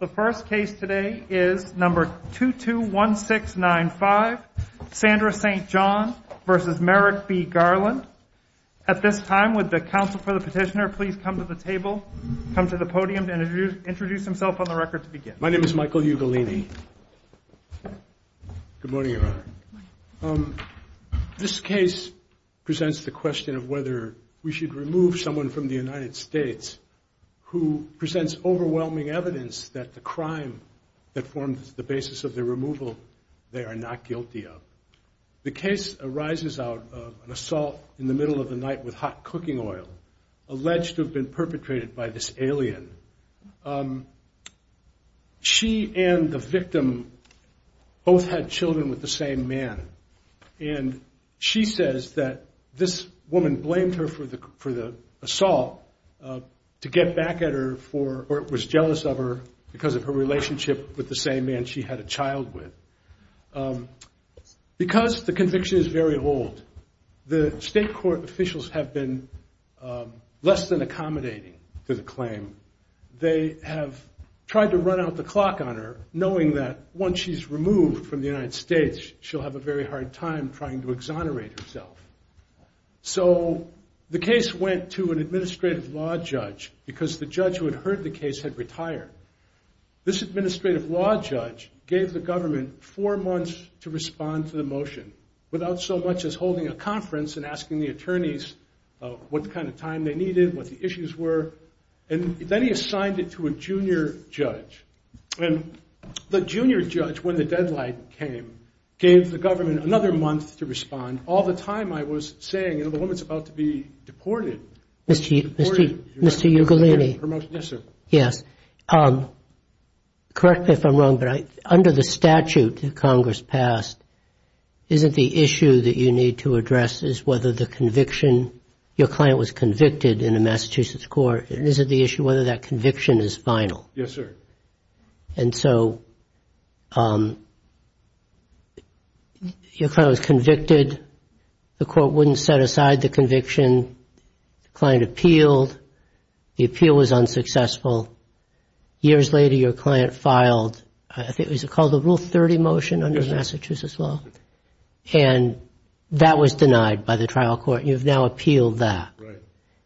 The first case today is number 221695, Sandra St. John v. Merrick B. Garland. At this time, would the counsel for the petitioner please come to the table, come to the podium, and introduce himself on the record to begin. My name is Michael Ugolini. Good morning, Your Honor. This case presents the question of whether we should remove someone from the United States who presents overwhelming evidence that the crime that forms the basis of their removal, they are not guilty of. The case arises out of an assault in the middle of the night with hot cooking oil, alleged to have been perpetrated by this alien. She and the victim both had children with the same man, and she says that this woman blamed her for the assault to get back at her for, or was jealous of her because of her relationship with the same man she had a child with. Because the conviction is very old, the state court officials have been less than accommodating to the claim. They have tried to run out the clock on her, knowing that once she's removed from the United States, she'll have a very hard time trying to exonerate herself. So the case went to an administrative law judge because the judge who had heard the case had retired. This administrative law judge gave the government four months to respond to the motion, without so much as holding a conference and asking the attorneys what kind of time they needed, what the issues were, and then he assigned it to a junior judge. The junior judge, when the deadline came, gave the government another month to respond. All the time I was saying, you know, the woman's about to be deported. Mr. Ugolini. Yes, sir. Yes. Correct me if I'm wrong, but under the statute that Congress passed, isn't the issue that you need to address is whether the conviction, your client was convicted in a Massachusetts court, and isn't the issue whether that conviction is final? Yes, sir. And so your client was convicted. The court wouldn't set aside the conviction. The client appealed. The appeal was unsuccessful. Years later, your client filed, I think it was called the Rule 30 motion under Massachusetts law, and that was denied by the trial court, and you've now appealed that. Right.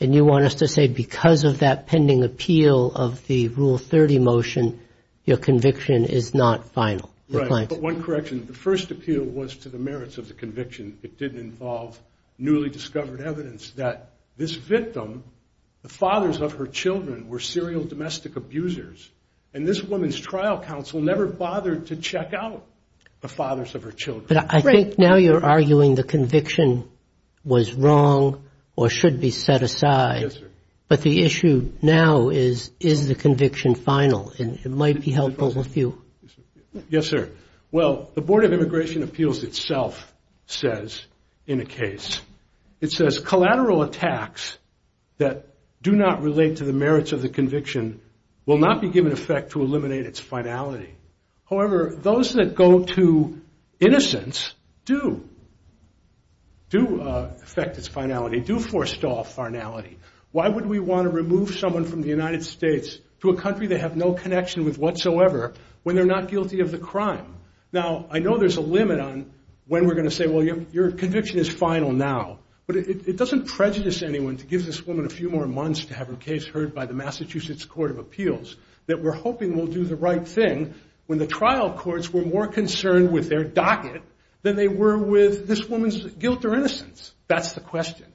And you want us to say because of that pending appeal of the Rule 30 motion, your conviction is not final? Right. But one correction. The first appeal was to the merits of the conviction. It didn't involve newly discovered evidence that this victim, the fathers of her children were serial domestic abusers, and this woman's trial counsel never bothered to check out the fathers of her children. But I think now you're arguing the conviction was wrong or should be set aside. Yes, sir. But the issue now is, is the conviction final? It might be helpful with you. Yes, sir. Well, the Board of Immigration Appeals itself says in a case, it says collateral attacks that do not relate to the merits of the conviction will not be given effect to eliminate its finality. However, those that go to innocence do affect its finality, do forestall finality. Why would we want to remove someone from the United States to a country they have no connection with whatsoever when they're not guilty of the crime? Now, I know there's a limit on when we're going to say, well, your conviction is final now, but it doesn't prejudice anyone to give this woman a few more months to have her case heard by the Massachusetts Court of Appeals that we're hoping will do the right thing when the trial courts were more concerned with their docket than they were with this woman's guilt or innocence. That's the question.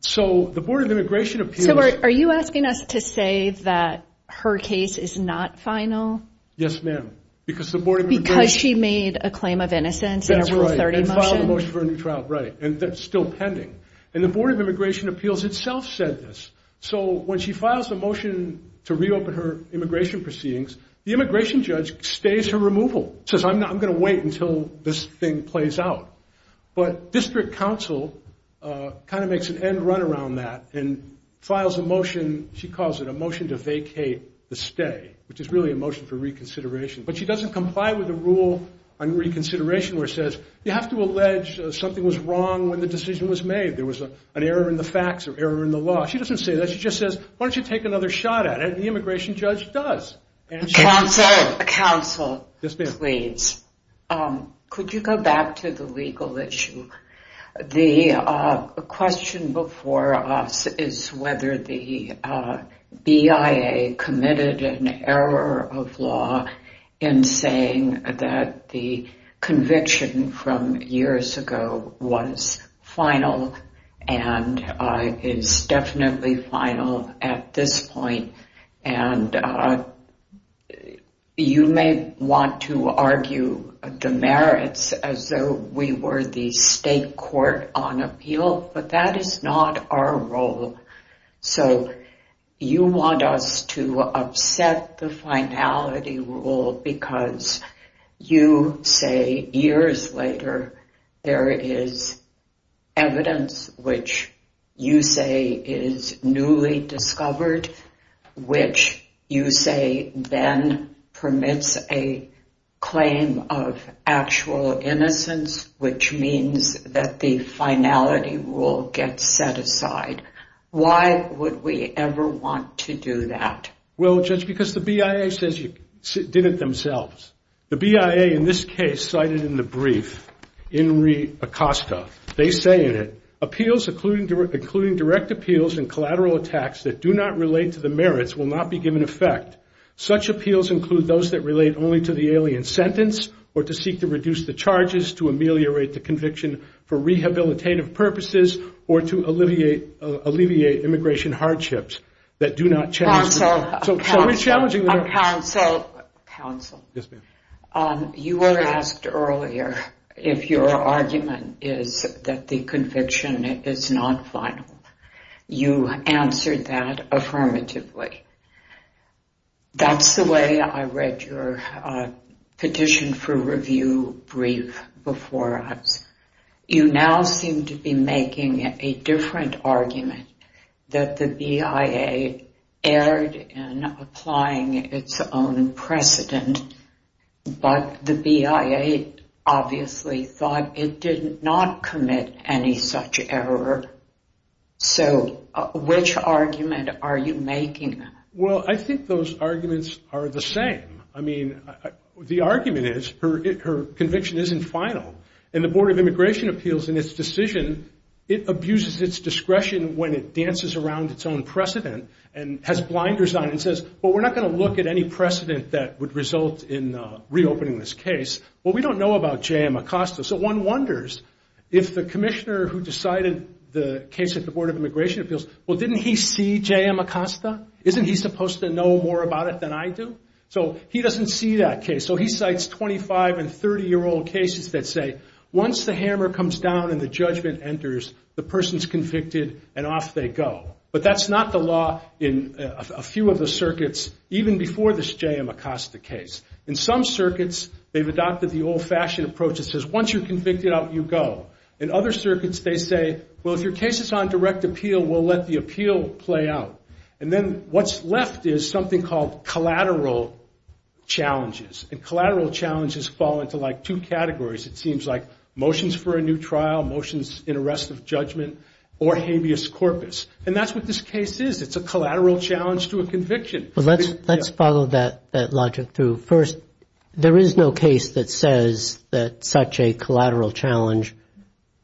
So the Board of Immigration Appeals – So are you asking us to say that her case is not final? Yes, ma'am, because the Board of Immigration – Because she made a claim of innocence in a Rule 30 motion? That's right, and filed a motion for a new trial, right, and that's still pending. And the Board of Immigration Appeals itself said this. So when she files a motion to reopen her immigration proceedings, the immigration judge stays her removal, says, I'm going to wait until this thing plays out. But district counsel kind of makes an end run around that and files a motion, she calls it a motion to vacate the stay, which is really a motion for reconsideration. But she doesn't comply with the rule on reconsideration where it says you have to allege something was wrong when the decision was made. There was an error in the facts or error in the law. She doesn't say that. She just says, why don't you take another shot at it? And the immigration judge does. Counsel. Counsel. Yes, ma'am. Please. Could you go back to the legal issue? The question before us is whether the BIA committed an error of law in saying that the conviction from years ago was final and is definitely final at this point. And you may want to argue the merits as though we were the state court on appeal, but that is not our role. So you want us to upset the finality rule because you say years later there is evidence which you say is newly discovered, which you say then permits a claim of actual innocence, which means that the finality rule gets set aside. Why would we ever want to do that? Well, Judge, because the BIA says you did it themselves. The BIA in this case cited in the brief, Inri Acosta, they say in it, appeals including direct appeals and collateral attacks that do not relate to the merits will not be given effect. Such appeals include those that relate only to the alien sentence or to seek to reduce the charges, to ameliorate the conviction for rehabilitative purposes or to alleviate immigration hardships that do not challenge the merits. Counsel. Counsel. Yes, ma'am. You were asked earlier if your argument is that the conviction is not final. You answered that affirmatively. That's the way I read your petition for review brief before us. You now seem to be making a different argument that the BIA erred in applying its own precedent, but the BIA obviously thought it did not commit any such error. So which argument are you making? Well, I think those arguments are the same. I mean, the argument is her conviction isn't final. And the Board of Immigration Appeals in its decision, it abuses its discretion when it dances around its own precedent and has blinders on and says, well, we're not going to look at any precedent that would result in reopening this case. Well, we don't know about J.M. Acosta. So one wonders if the commissioner who decided the case at the Board of Immigration Appeals, well, didn't he see J.M. Acosta? Isn't he supposed to know more about it than I do? So he doesn't see that case. So he cites 25- and 30-year-old cases that say once the hammer comes down and the judgment enters, the person's convicted and off they go. But that's not the law in a few of the circuits, even before this J.M. Acosta case. In some circuits, they've adopted the old-fashioned approach that says once you're convicted, you go. In other circuits, they say, well, if your case is on direct appeal, we'll let the appeal play out. And then what's left is something called collateral challenges. And collateral challenges fall into like two categories, it seems, like motions for a new trial, motions in arrest of judgment, or habeas corpus. And that's what this case is. It's a collateral challenge to a conviction. Well, let's follow that logic through. First, there is no case that says that such a collateral challenge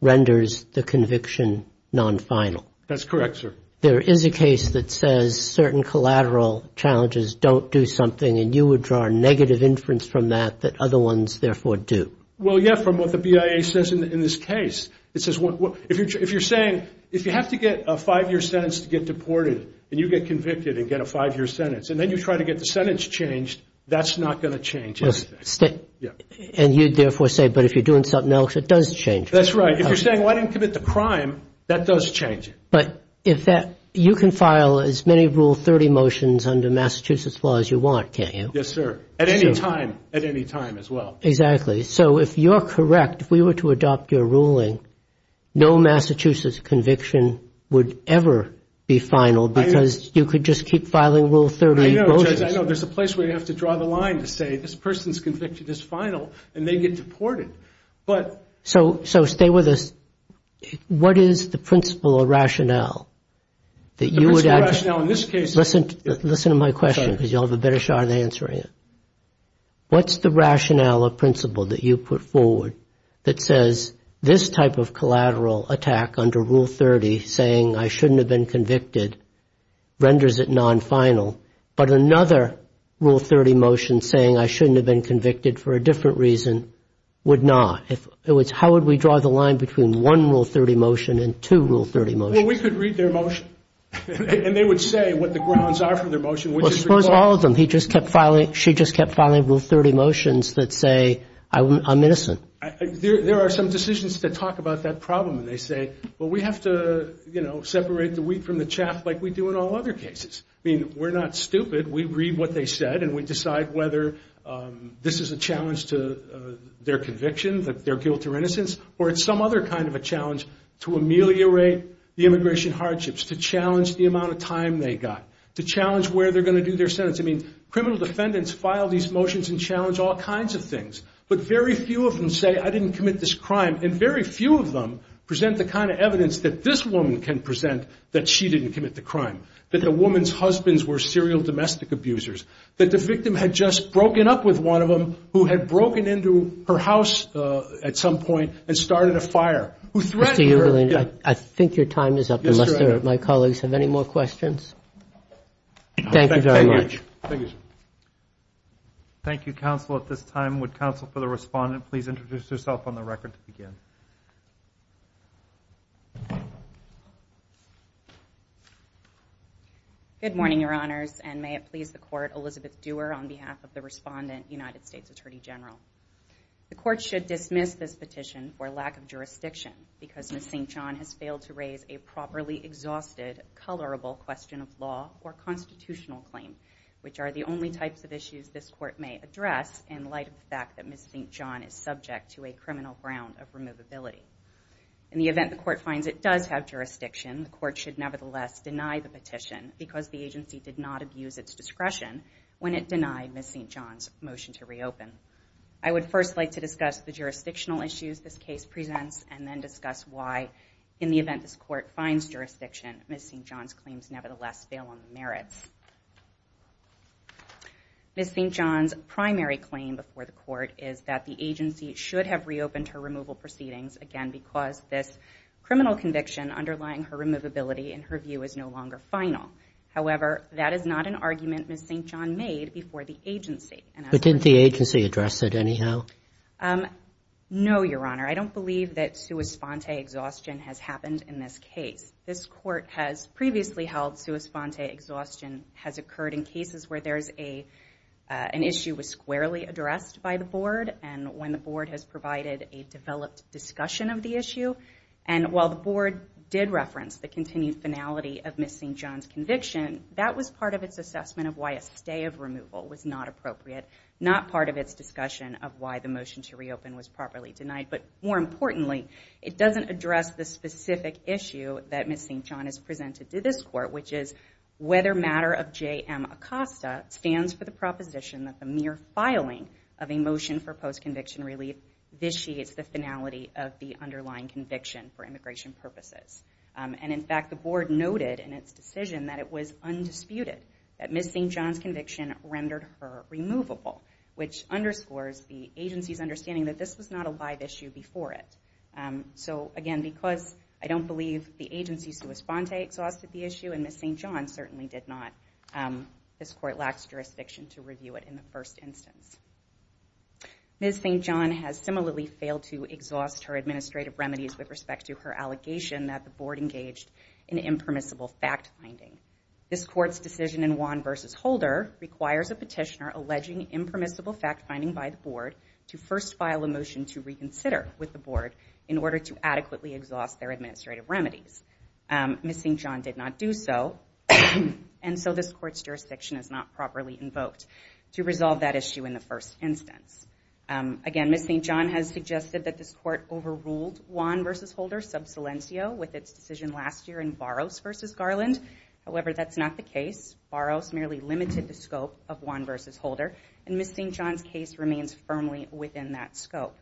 renders the conviction non-final. That's correct, sir. There is a case that says certain collateral challenges don't do something, and you would draw a negative inference from that that other ones therefore do. Well, yeah, from what the BIA says in this case. It says if you're saying if you have to get a five-year sentence to get deported, and you get convicted and get a five-year sentence, and then you try to get the sentence changed, that's not going to change anything. And you'd therefore say, but if you're doing something else, it does change. That's right. If you're saying, well, I didn't commit the crime, that does change it. But you can file as many Rule 30 motions under Massachusetts law as you want, can't you? Yes, sir. At any time. At any time as well. Exactly. So if you're correct, if we were to adopt your ruling, no Massachusetts conviction would ever be final because you could just keep filing Rule 30 motions. I know, Judge. I know. There's a place where you have to draw the line to say this person's conviction is final and they get deported. So stay with us. What is the principle or rationale that you would address? The principle or rationale in this case. Listen to my question because you'll have a better shot at answering it. What's the rationale or principle that you put forward that says this type of collateral attack under Rule 30, saying I shouldn't have been convicted, renders it non-final, but another Rule 30 motion saying I shouldn't have been convicted for a different reason would not? How would we draw the line between one Rule 30 motion and two Rule 30 motions? Well, we could read their motion and they would say what the grounds are for their motion. Well, suppose all of them. She just kept filing Rule 30 motions that say I'm innocent. There are some decisions that talk about that problem and they say, well, we have to, you know, separate the wheat from the chaff like we do in all other cases. I mean, we're not stupid. We read what they said and we decide whether this is a challenge to their conviction that they're guilt or innocence or it's some other kind of a challenge to ameliorate the immigration hardships, to challenge the amount of time they got, to challenge where they're going to do their sentence. I mean, criminal defendants file these motions and challenge all kinds of things, but very few of them say I didn't commit this crime, and very few of them present the kind of evidence that this woman can present that she didn't commit the crime, that the woman's husbands were serial domestic abusers, that the victim had just broken up with one of them who had broken into her house at some point and started a fire, who threatened her. Mr. Euglena, I think your time is up unless my colleagues have any more questions. Thank you very much. Thank you, sir. Thank you, counsel, at this time. Counsel, for the respondent, please introduce yourself on the record to begin. Good morning, Your Honors, and may it please the Court, Elizabeth Dewar on behalf of the respondent, United States Attorney General. The Court should dismiss this petition for lack of jurisdiction because Ms. St. John has failed to raise a properly exhausted, colorable question of law or constitutional claim, which are the only types of issues this Court may address in light of the fact that Ms. St. John is subject to a criminal ground of removability. In the event the Court finds it does have jurisdiction, the Court should nevertheless deny the petition because the agency did not abuse its discretion when it denied Ms. St. John's motion to reopen. I would first like to discuss the jurisdictional issues this case presents and then discuss why, in the event this Court finds jurisdiction, Ms. St. John's claims nevertheless fail on the merits. Ms. St. John's primary claim before the Court is that the agency should have reopened her removal proceedings, again, because this criminal conviction underlying her removability, in her view, is no longer final. However, that is not an argument Ms. St. John made before the agency. But didn't the agency address it anyhow? No, Your Honor. I don't believe that sua sponte exhaustion has happened in this case. This Court has previously held sua sponte exhaustion has occurred in cases where an issue was squarely addressed by the Board and when the Board has provided a developed discussion of the issue. And while the Board did reference the continued finality of Ms. St. John's conviction, that was part of its assessment of why a stay of removal was not appropriate, not part of its discussion of why the motion to reopen was properly denied. But more importantly, it doesn't address the specific issue that Ms. St. John has presented to this Court, which is whether matter of J.M. Acosta stands for the proposition that the mere filing of a motion for post-conviction relief vitiates the finality of the underlying conviction for immigration purposes. And in fact, the Board noted in its decision that it was undisputed that Ms. St. John's conviction rendered her removable, which underscores the agency's understanding that this was not a live issue before it. So again, because I don't believe the agency sua sponte exhausted the issue, and Ms. St. John certainly did not, this Court lacks jurisdiction to review it in the first instance. Ms. St. John has similarly failed to exhaust her administrative remedies with respect to her allegation that the Board engaged in impermissible fact-finding. This Court's decision in Wan v. Holder requires a petitioner alleging impermissible fact-finding by the Board to first file a motion to reconsider with the Board in order to adequately exhaust their administrative remedies. Ms. St. John did not do so, and so this Court's jurisdiction is not properly invoked to resolve that issue in the first instance. Again, Ms. St. John has suggested that this Court overruled Wan v. Holder sub silencio with its decision last year in Barros v. Garland. However, that's not the case. Barros merely limited the scope of Wan v. Holder, and Ms. St. John's case remains firmly within that scope.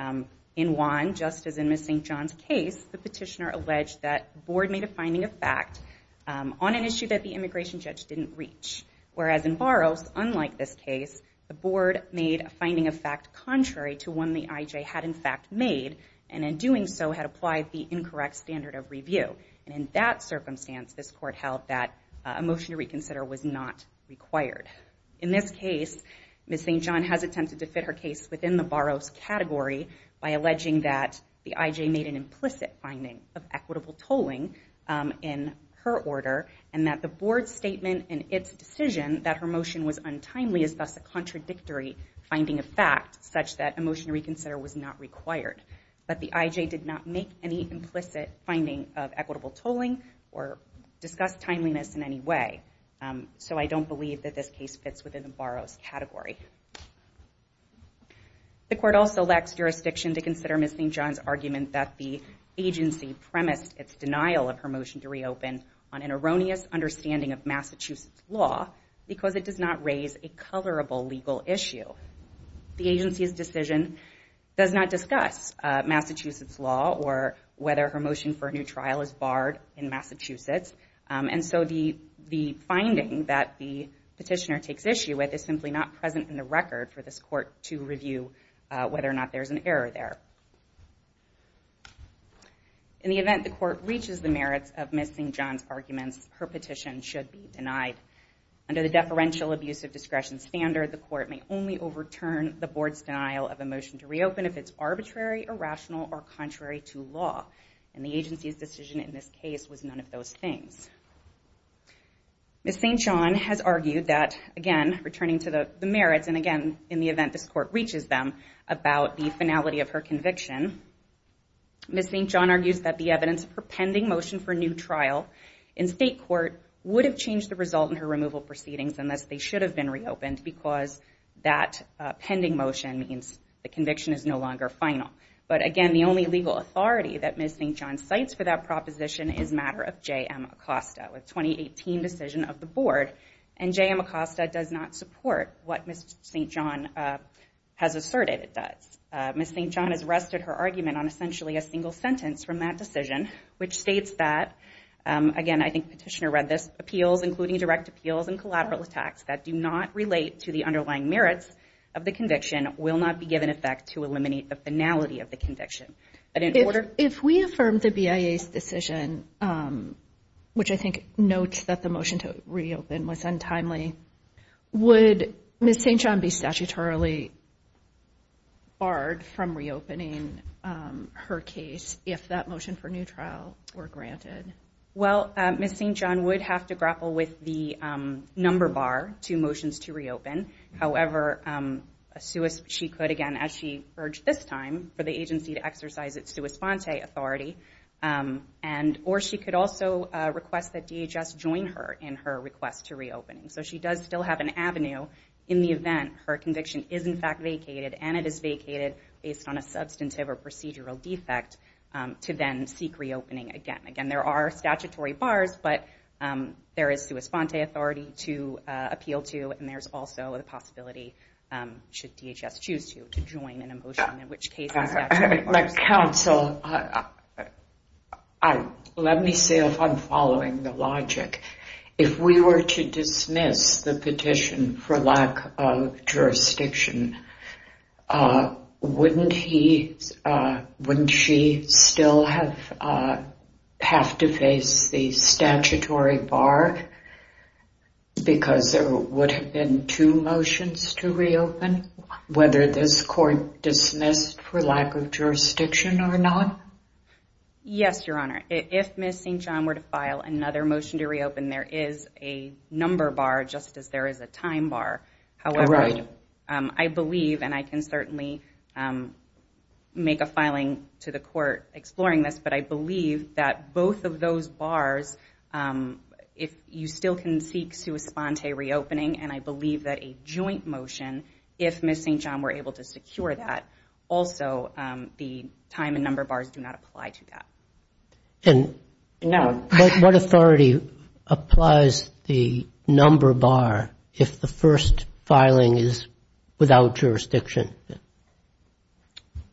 In Wan, just as in Ms. St. John's case, the petitioner alleged that the Board made a finding of fact on an issue that the immigration judge didn't reach. Whereas in Barros, unlike this case, the Board made a finding of fact contrary to one the IJ had in fact made, and in doing so had applied the incorrect standard of review. And in that circumstance, this Court held that a motion to reconsider was not required. In this case, Ms. St. John has attempted to fit her case within the Barros category by alleging that the IJ made an implicit finding of equitable tolling in her order, and that the Board's statement in its decision that her motion was untimely is thus a contradictory finding of fact such that a motion to reconsider was not required. But the IJ did not make any implicit finding of equitable tolling or discuss timeliness in any way. So I don't believe that this case fits within the Barros category. The Court also lacks jurisdiction to consider Ms. St. John's argument that the agency premised its denial of her motion to reopen on an erroneous understanding of Massachusetts law because it does not raise a colorable legal issue. The agency's decision does not discuss Massachusetts law or whether her motion for a new trial is barred in Massachusetts, and so the finding that the petitioner takes issue with is simply not present in the record for this Court to review whether or not there's an error there. In the event the Court reaches the merits of Ms. St. John's arguments, her petition should be denied. Under the deferential abuse of discretion standard, the Court may only overturn the Board's denial of a motion to reopen if it's arbitrary, irrational, or contrary to law. And the agency's decision in this case was none of those things. Ms. St. John has argued that, again, returning to the merits, and again, in the event this Court reaches them, about the finality of her conviction, Ms. St. John argues that the evidence for pending motion for a new trial in state court would have changed the result in her removal proceedings unless they should have been reopened, because that pending motion means the conviction is no longer final. But again, the only legal authority that Ms. St. John cites for that proposition is the matter of J.M. Acosta, a 2018 decision of the Board, and J.M. Acosta does not support what Ms. St. John has asserted it does. Ms. St. John has rested her argument on essentially a single sentence from that decision, which states that, again, I think the petitioner read this, that appeals, including direct appeals and collateral attacks, that do not relate to the underlying merits of the conviction will not be given effect to eliminate the finality of the conviction. If we affirm the BIA's decision, which I think notes that the motion to reopen was untimely, would Ms. St. John be statutorily barred from reopening her case if that motion for a new trial were granted? Well, Ms. St. John would have to grapple with the number bar to motions to reopen. However, she could, again, as she urged this time, for the agency to exercise its sua sponte authority, or she could also request that DHS join her in her request to reopen. So she does still have an avenue in the event her conviction is in fact vacated and it is vacated based on a substantive or procedural defect to then seek reopening again. Again, there are statutory bars, but there is sua sponte authority to appeal to, and there's also the possibility, should DHS choose to, to join in a motion, in which case it's statutory. Counsel, let me see if I'm following the logic. If we were to dismiss the petition for lack of jurisdiction, wouldn't she still have to face the statutory bar because there would have been two motions to reopen, whether this court dismissed for lack of jurisdiction or not? Yes, Your Honor. If Ms. St. John were to file another motion to reopen, there is a number bar just as there is a time bar. Right. However, I believe, and I can certainly make a filing to the court exploring this, but I believe that both of those bars, if you still can seek sua sponte reopening, and I believe that a joint motion, if Ms. St. John were able to secure that, also the time and number bars do not apply to that. And what authority applies the number bar if the first filing is without jurisdiction?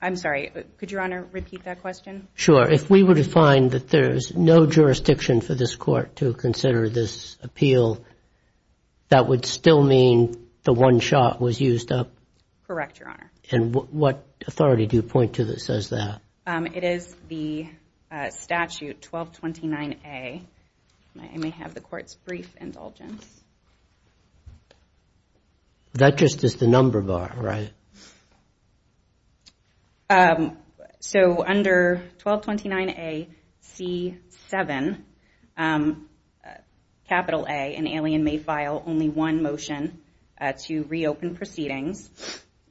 I'm sorry. Could Your Honor repeat that question? Sure. If we were to find that there's no jurisdiction for this court to consider this appeal, that would still mean the one shot was used up? Correct, Your Honor. And what authority do you point to that says that? It is the statute 1229A. I may have the court's brief indulgence. That just is the number bar, right? So under 1229AC7, capital A, an alien may file only one motion to reopen proceedings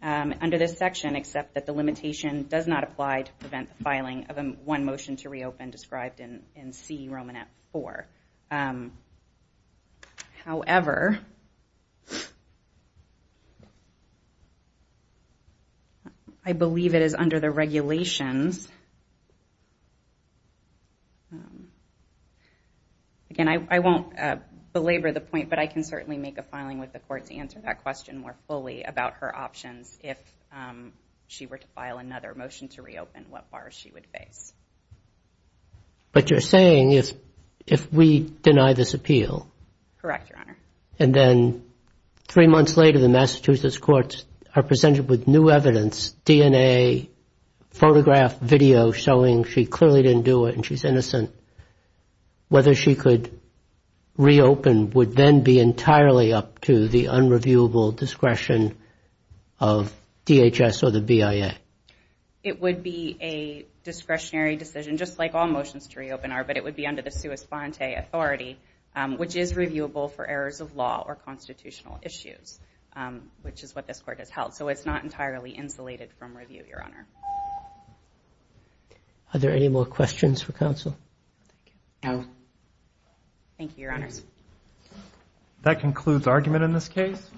under this section, except that the limitation does not apply to prevent the filing of one motion to reopen described in C. Romanet 4. However, I believe it is under the regulations. Again, I won't belabor the point, but I can certainly make a filing with the court to answer that question more fully about her options if she were to file another motion to reopen, what bars she would face. But you're saying if we deny this appeal? Correct, Your Honor. And then three months later the Massachusetts courts are presented with new evidence, DNA, photograph, video, showing she clearly didn't do it and she's innocent, whether she could reopen would then be entirely up to the unreviewable discretion of DHS or the BIA. It would be a discretionary decision, just like all motions to reopen are, but it would be under the sua sponte authority, which is reviewable for errors of law or constitutional issues, which is what this court has held. So it's not entirely insulated from review, Your Honor. Are there any more questions for counsel? No. Thank you, Your Honors. That concludes argument in this case.